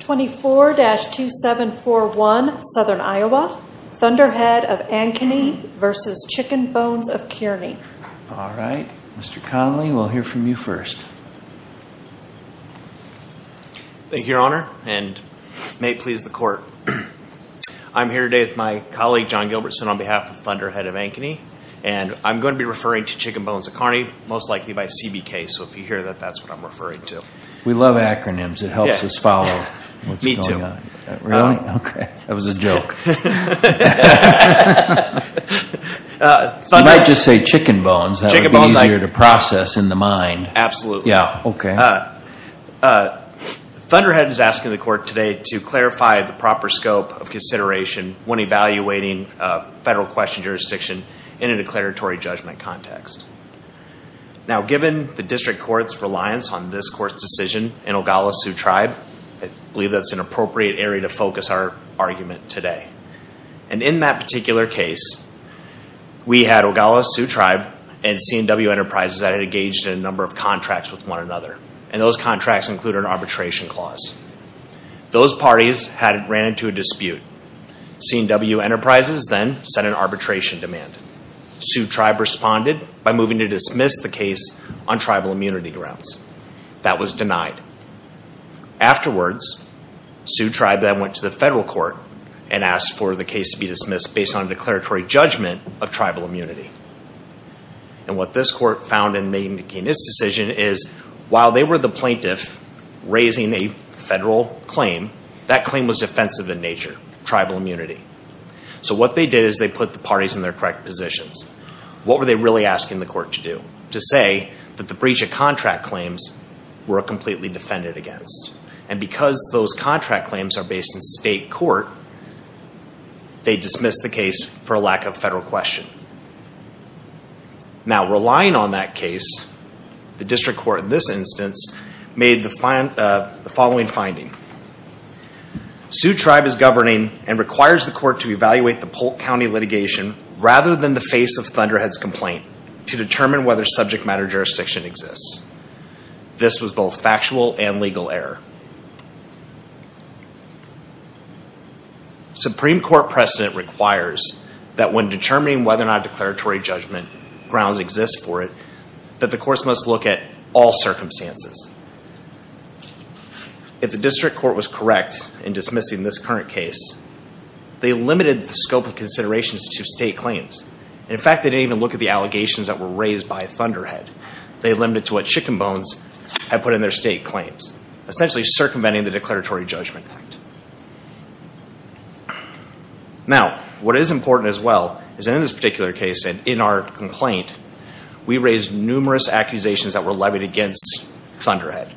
24-2741 Southern Iowa, Thunderhead of Ankeny v. Chicken Bones of Kearney All right, Mr. Connelly, we'll hear from you first. Thank you, Your Honor, and may it please the Court. I'm here today with my colleague, John Gilbertson, on behalf of Thunderhead of Ankeny. And I'm going to be referring to Chicken Bones of Kearney, most likely by CBK. So if you hear that, that's what I'm referring to. We love acronyms. It helps us follow what's going on. Really? Okay. That was a joke. You might just say Chicken Bones. That would be easier to process in the mind. Yeah, okay. Thunderhead is asking the Court today to clarify the proper scope of consideration when evaluating federal question jurisdiction in a declaratory judgment context. Now, given the District Court's reliance on this Court's decision in Ogala Sioux Tribe, I believe that's an appropriate area to focus our argument today. And in that particular case, we had Ogala Sioux Tribe and CNW Enterprises that had engaged in a number of contracts with one another. And those contracts included an arbitration clause. Those parties had ran into a dispute. CNW Enterprises then sent an arbitration demand. Sioux Tribe responded by moving to dismiss the case on tribal immunity grounds. That was denied. Afterwards, Sioux Tribe then went to the federal court and asked for the case to be dismissed based on a declaratory judgment of tribal immunity. And what this court found in making this decision is, while they were the plaintiff raising a federal claim, that claim was defensive in nature, tribal immunity. So what they did is they put the parties in their correct positions. What were they really asking the court to do? To say that the breach of contract claims were completely defended against. And because those contract claims are based in state court, they dismissed the case for a lack of federal question. Now, relying on that case, the district court in this instance made the following finding. Sioux Tribe is governing and requires the court to evaluate the Polk County litigation rather than the face of Thunderhead's complaint to determine whether subject matter jurisdiction exists. This was both factual and legal error. Supreme Court precedent requires that when determining whether or not declaratory judgment grounds exist for it, that the courts must look at all circumstances. If the district court was correct in dismissing this current case, they limited the scope of considerations to state claims. In fact, they didn't even look at the allegations that were raised by Thunderhead. They limited to what Chicken Bones had put in their state claims. Essentially circumventing the declaratory judgment act. Now, what is important as well is in this particular case and in our complaint, we raised numerous accusations that were levied against Thunderhead.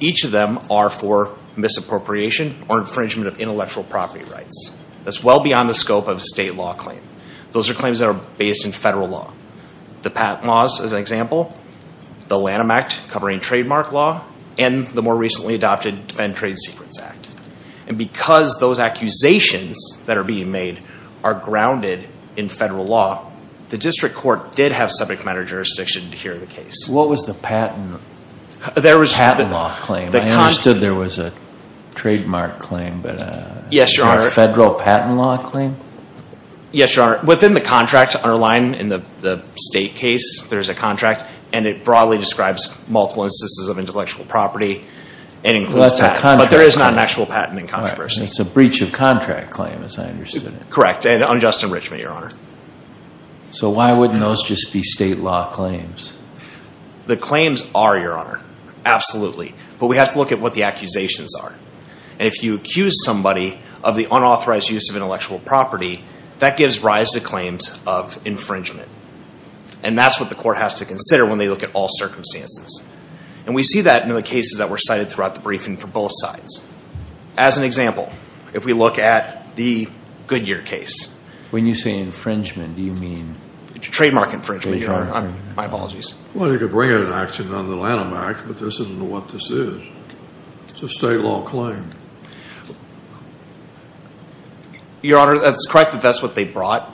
Each of them are for misappropriation or infringement of intellectual property rights. That's well beyond the scope of a state law claim. Those are claims that are based in federal law. The Patent Laws is an example. The Lanham Act covering trademark law. And the more recently adopted Defend Trade Secrets Act. And because those accusations that are being made are grounded in federal law, the district court did have subject matter jurisdiction to hear the case. What was the patent law claim? I understood there was a trademark claim, but a federal patent law claim? Yes, Your Honor. Within the contract underlined in the state case, there's a contract. And it broadly describes multiple instances of intellectual property. And includes patents. But there is not an actual patent in controversy. It's a breach of contract claim as I understood it. Correct. And unjust enrichment, Your Honor. So why wouldn't those just be state law claims? The claims are, Your Honor. Absolutely. But we have to look at what the accusations are. And if you accuse somebody of the unauthorized use of intellectual property, that gives rise to claims of infringement. And that's what the court has to consider when they look at all circumstances. And we see that in the cases that were cited throughout the briefing for both sides. As an example, if we look at the Goodyear case. When you say infringement, do you mean? Trademark infringement, Your Honor. My apologies. Well, you could bring it in action under the Lanham Act, but this isn't what this is. It's a state law claim. Your Honor, that's correct that that's what they brought.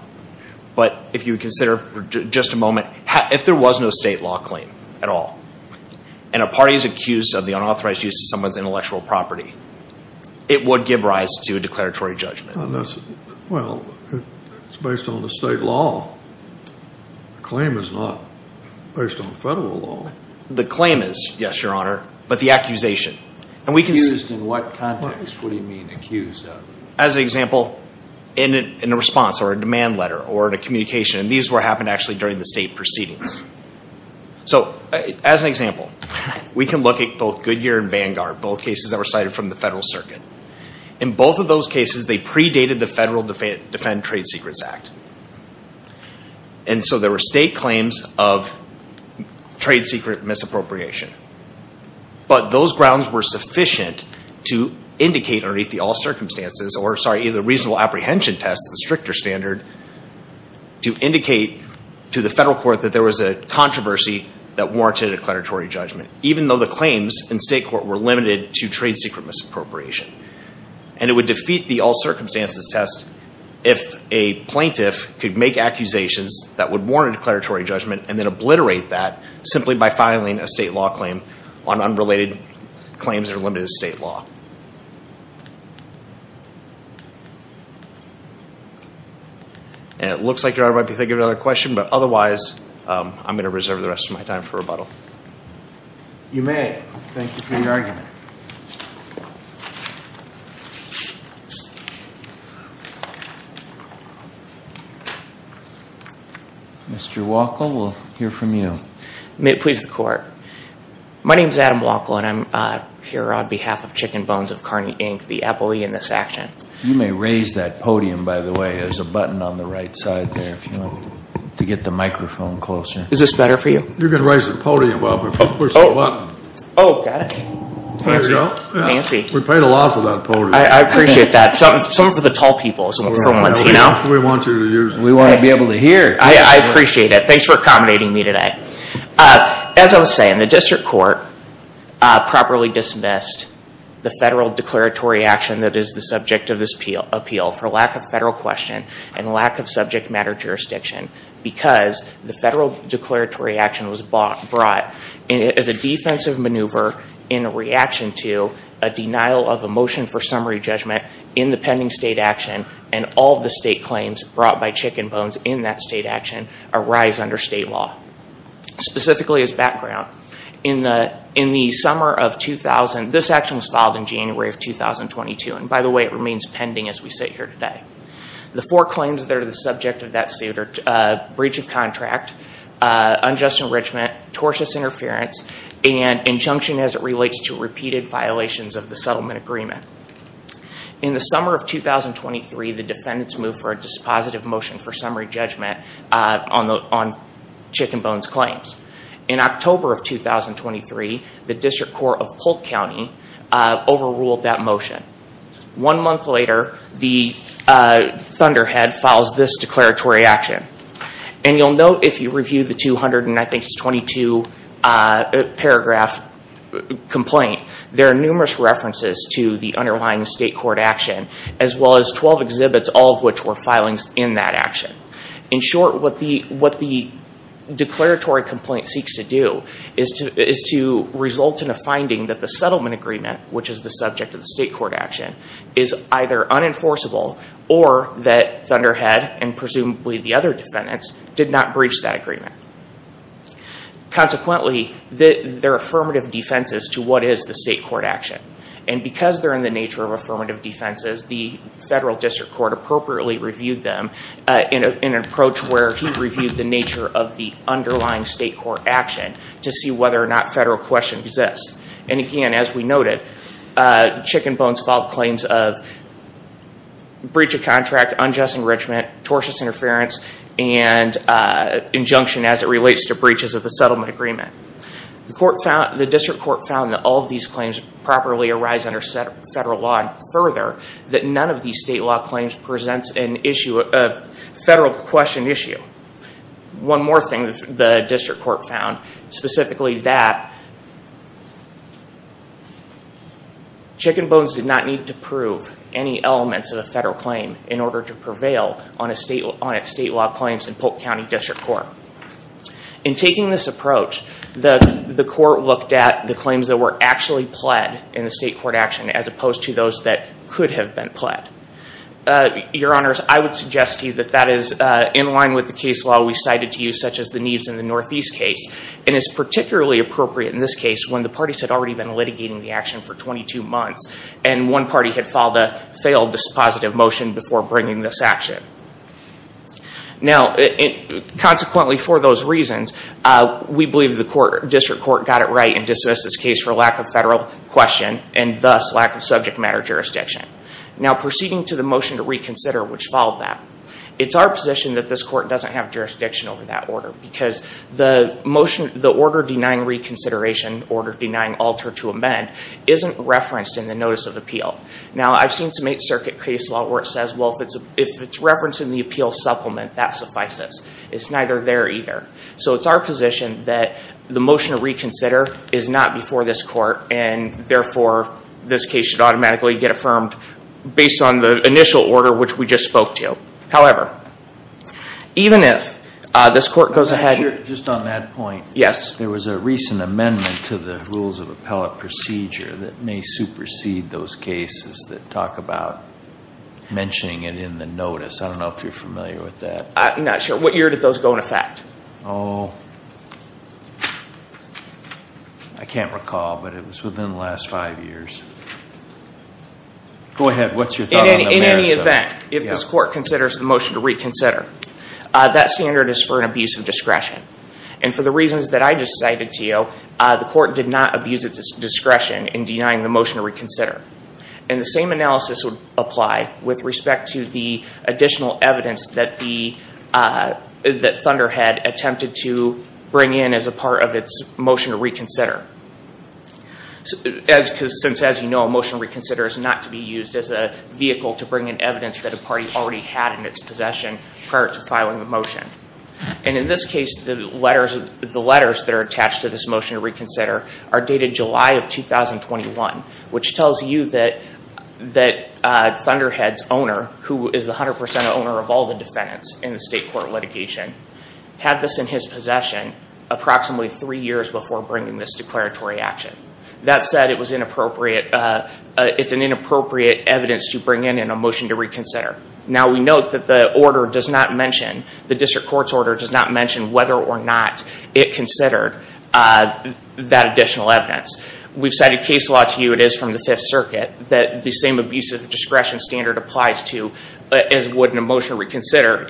But if you would consider for just a moment, if there was no state law claim at all, and a party is accused of the unauthorized use of someone's intellectual property, it would give rise to a declaratory judgment. Well, it's based on the state law. The claim is not based on federal law. The claim is, yes, Your Honor, but the accusation. Accused in what context? What do you mean accused of? As an example, in a response or a demand letter or in a communication. And these were happening actually during the state proceedings. So, as an example, we can look at both Goodyear and Vanguard, both cases that were cited from the federal circuit. In both of those cases, they predated the Federal Defend Trade Secrets Act. And so there were state claims of trade secret misappropriation. But those grounds were sufficient to indicate underneath the all circumstances, or sorry, either reasonable apprehension test, the stricter standard, to indicate to the federal court that there was a controversy that warranted a declaratory judgment, even though the claims in state court were limited to trade secret misappropriation. And it would defeat the all circumstances test if a plaintiff could make accusations that would warrant a declaratory judgment and then obliterate that simply by filing a state law claim on unrelated claims that are limited to state law. And it looks like Your Honor, I'd like to give you another question, but otherwise, I'm going to reserve the rest of my time for rebuttal. You may. Thank you for your argument. Mr. Wackel, we'll hear from you. Please, the court. My name is Adam Wackel, and I'm here on behalf of Chicken Bones of Kearney, Inc., the appellee in this action. You may raise that podium, by the way. There's a button on the right side there to get the microphone closer. Is this better for you? You can raise the podium up. Oh, got it. Fancy. We paid a lot for that podium. I appreciate that. Some for the tall people. We want you to use it. We want to be able to hear. I appreciate it. Thanks for accommodating me today. As I was saying, the district court properly dismissed the federal declaratory action that is the subject of this appeal for lack of federal question and lack of subject matter jurisdiction because the federal declaratory action was brought as a defensive maneuver in reaction to a denial of a motion for summary judgment in the pending state action and all of the state claims brought by Chicken Bones in that state action arise under state law. Specifically as background, in the summer of 2000, this action was filed in January of 2022, and by the way, it remains pending as we sit here today. The four claims that are the subject of that suit are breach of contract, unjust enrichment, tortious interference, and injunction as it relates to repeated violations of the settlement agreement. In the summer of 2023, the defendants moved for a dispositive motion for summary judgment on Chicken Bones claims. In October of 2023, the district court of Polk County overruled that motion. One month later, the Thunderhead files this declaratory action, and you'll note if you review the 222-paragraph complaint, there are numerous references to the underlying state court action, as well as 12 exhibits, all of which were filings in that action. In short, what the declaratory complaint seeks to do is to result in a finding that the settlement agreement, which is the subject of the state court action, is either unenforceable or that Thunderhead and presumably the other defendants did not breach that agreement. Consequently, there are affirmative defenses to what is the state court action, and given the nature of affirmative defenses, the federal district court appropriately reviewed them in an approach where he reviewed the nature of the underlying state court action to see whether or not federal question exists. Again, as we noted, Chicken Bones filed claims of breach of contract, unjust enrichment, tortious interference, and injunction as it relates to breaches of the settlement agreement. The district court found that all of these claims properly arise under federal law, and further, that none of these state law claims presents a federal question issue. One more thing the district court found, specifically that Chicken Bones did not need to prove any elements of a federal claim in order to prevail on its state law claims in Polk County District Court. In taking this approach, the court looked at the claims that were actually pled in the state court action as opposed to those that could have been pled. Your Honors, I would suggest to you that that is in line with the case law we cited to you, such as the Neves and the Northeast case, and it's particularly appropriate in this case when the parties had already been litigating the action for 22 months, and one party had filed a failed dispositive motion before bringing this action. Now, consequently for those reasons, we believe the district court got it right and dismissed this case for lack of federal question and thus lack of subject matter jurisdiction. Now, proceeding to the motion to reconsider, which followed that, it's our position that this court doesn't have jurisdiction over that order because the order denying reconsideration, order denying alter to amend, isn't referenced in the notice of appeal. Now, I've seen some Eighth Circuit case law where it says, well, if it's referenced in the appeal supplement, that suffices. It's neither there either. The order to reconsider is not before this court, and therefore, this case should automatically get affirmed based on the initial order which we just spoke to. However, even if this court goes ahead... I'm not sure, just on that point. Yes. There was a recent amendment to the rules of appellate procedure that may supersede those cases that talk about mentioning it in the notice. I don't know if you're familiar with that. I'm not sure. What year did those go into effect? Oh. I can't recall, but it was within the last five years. Go ahead. What's your thought on that? In any event, if this court considers the motion to reconsider, that standard is for an abuse of discretion. And for the reasons that I just cited to you, the court did not abuse its discretion in denying the motion to reconsider. And the same analysis would apply with respect to the additional evidence that Thunderhead attempted to bring in as a part of its motion to reconsider. Since, as you know, a motion to reconsider is not to be used as a vehicle to bring in evidence that a party already had in its possession prior to filing a motion. And in this case, the letters that are attached to this motion to reconsider are dated July of 2021, which tells you that Thunderhead's owner, who is the 100% owner of the defendants in the state court litigation, had this in his possession approximately three years before bringing this declaratory action. That said, it's an inappropriate evidence to bring in in a motion to reconsider. Now, we note that the district court's order does not mention whether or not it considered that additional evidence. We've cited case law to you, it is from the Fifth Circuit, that the same abuse of discretion standard to reconsider,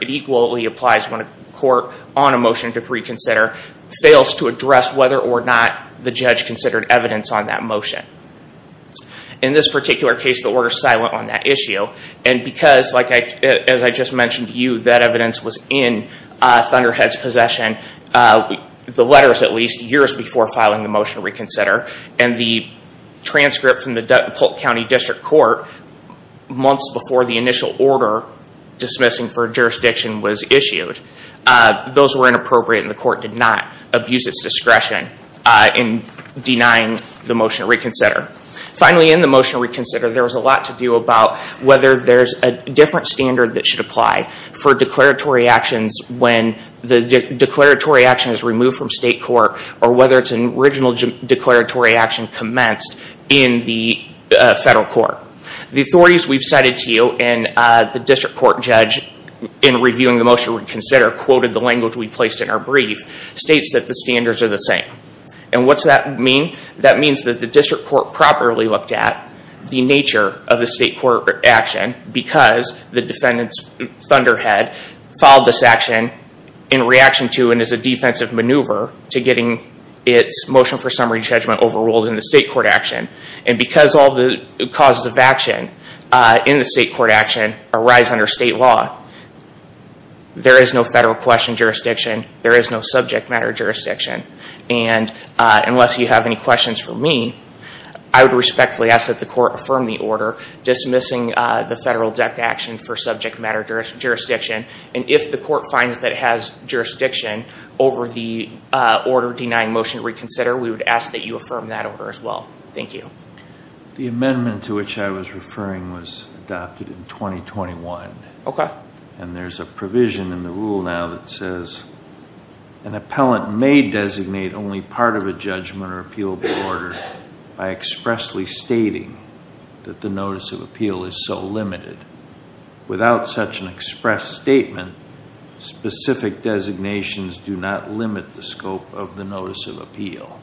it equally applies when a court on a motion to reconsider fails to address whether or not the judge considered evidence on that motion. In this particular case, the order is silent on that issue. And because, as I just mentioned to you, that evidence was in Thunderhead's possession, the letters at least, years before filing the motion to reconsider, and the transcript from the Dutton-Polk County District Court months before the initial order of jurisdiction was issued, those were inappropriate and the court did not abuse its discretion in denying the motion to reconsider. Finally, in the motion to reconsider, there was a lot to do about whether there's a different standard that should apply for declaratory actions when the declaratory action is removed from state court, or whether it's an original declaratory action commenced in the federal court. The authorities we've cited to you when the district court judge, in reviewing the motion to reconsider, quoted the language we placed in our brief, states that the standards are the same. And what's that mean? That means that the district court properly looked at the nature of the state court action because the defendant, Thunderhead, filed this action in reaction to and as a defensive maneuver to getting its motion for summary judgment overruled in the state court action. And because all the causes of action in the state court action arise under state law, there is no federal question jurisdiction. There is no subject matter jurisdiction. And unless you have any questions for me, I would respectfully ask that the court affirm the order dismissing the federal DEC action for subject matter jurisdiction. And if the court finds that it has jurisdiction over the order denying motion to reconsider, we would ask that you affirm that order as well. Thank you. The amendment to which I was referring was adopted in 2021. And there's a provision in the rule now that says, an appellant may designate only part of a judgment or appeal by expressly stating that the notice of appeal is so limited. Without such an express statement, specific designations do not limit the scope of the notice of appeal.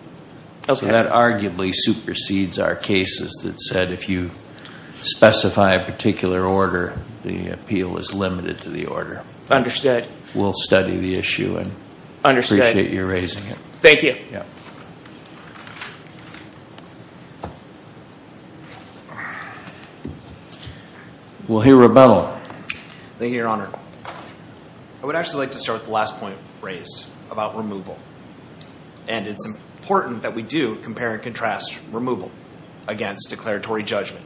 Okay. So that arguably supersedes our cases that said if you specify a particular order, the appeal is limited to the order. Understood. We'll study the issue and appreciate your raising it. Thank you. We'll hear Rebental. Thank you, Your Honor. I would actually like to start with the last point raised about removal. And it's important that we do compare and contrast removal with declaratory judgment.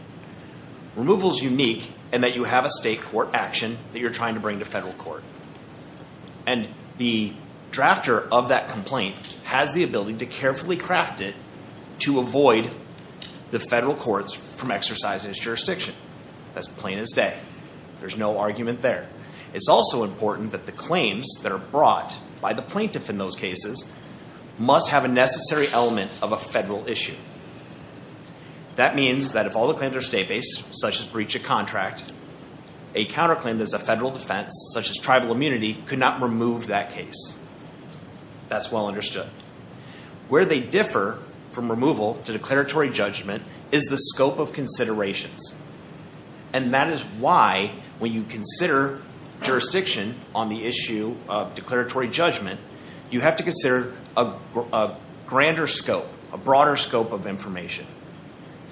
Removal is unique in that you have a state court action that you're trying to bring to federal court. And the drafter of that complaint has the ability to carefully craft it to avoid the federal courts from exercising its jurisdiction. That's plain as day. There's no argument there. It's also important that the claims that are brought by the plaintiff in those cases must have a necessary element of a federal issue. That means that if all the claims are state-based, such as breach of contract, a counterclaim that is a federal defense, such as tribal immunity, could not remove that case. That's well understood. Where they differ from removal to declaratory judgment is the scope of considerations. And that is why when you consider jurisdiction on the issue of declaratory judgment, you have to consider a grander scope, a broader scope of information,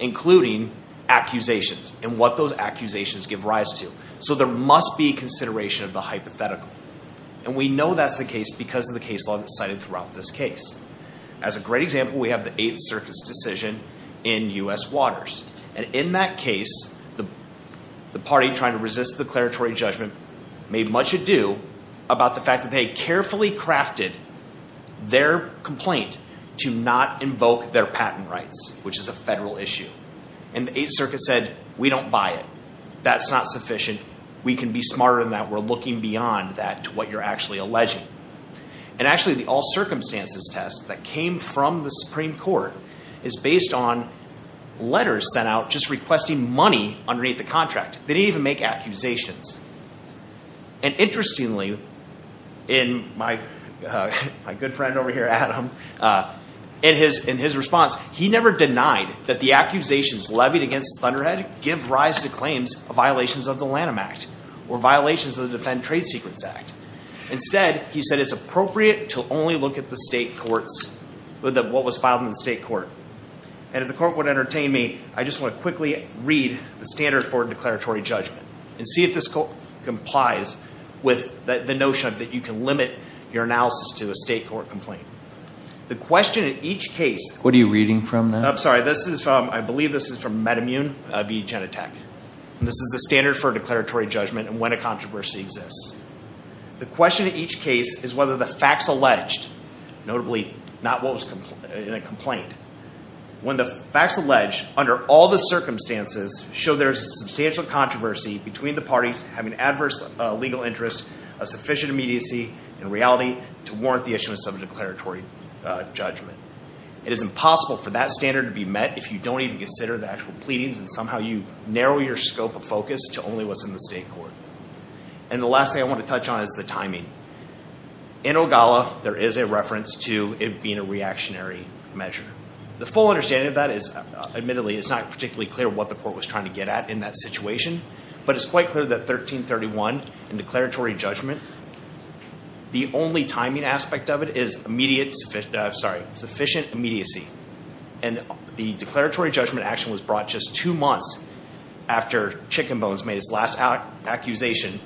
including accusations and what those accusations give rise to. So there must be consideration of the hypothetical. And we know that's the case because of the case law that's cited throughout this case. As a great example, we have the Eighth Circus decision in U.S. Waters. And in that case, the party trying to resist the declaratory judgment made much ado about the fact that they carefully crafted their complaint to not invoke their patent rights, which is a federal issue. And the Eighth Circuit said, we don't buy it. That's not sufficient. We can be smarter than that. We're looking beyond that to what you're actually alleging. And actually, the all circumstances test that came from the Supreme Court is based on letters sent out just requesting money underneath the contract. They didn't even make accusations. And interestingly, in my good friend over here, Adam, in his response, he never denied that the accusations levied against Thunderhead give rise to claims of violations of the Lanham Act or violations of the Defend Trade Secrets Act. Instead, he said, it's appropriate to only look at the state courts with what was filed in the state court. And if the court would entertain me, I just want to quickly read the standard for declaratory judgment and see if this complies with the notion that you can limit your analysis to a state court complaint. The question in each case... What are you reading from now? I'm sorry. This is from, I believe this is from Metamune v. Genentech. This is the standard for declaratory judgment and when a controversy exists. The question in each case is whether the facts alleged, notably, not what was in a complaint, when the facts alleged under all the circumstances show there is a substantial controversy between the parties having adverse legal interests, a sufficient immediacy, and reality to warrant the issuance of a declaratory judgment. It is impossible for that standard to be met if you don't even consider the actual pleadings and somehow you narrow your scope of focus to only what's in the state court. And the last thing I want to touch on is the timing. In Ogalla, there is a reference to it being a reactionary measure. The full understanding of that is, admittedly, it's not particularly clear what the court was trying to get at in that situation, but it's quite clear that 1331 in declaratory judgment, the only timing aspect of it is sufficient immediacy. And the declaratory judgment action was brought just two months after Chicken Bones made its last accusation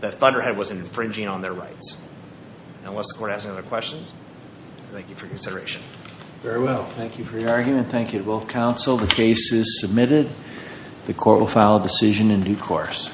that Thunderhead was infringing on their rights. Unless the court has any other questions, I thank you for your consideration. Very well. Thank you for your argument. Thank you to both counsel. The case is submitted. The court will file a decision in due course.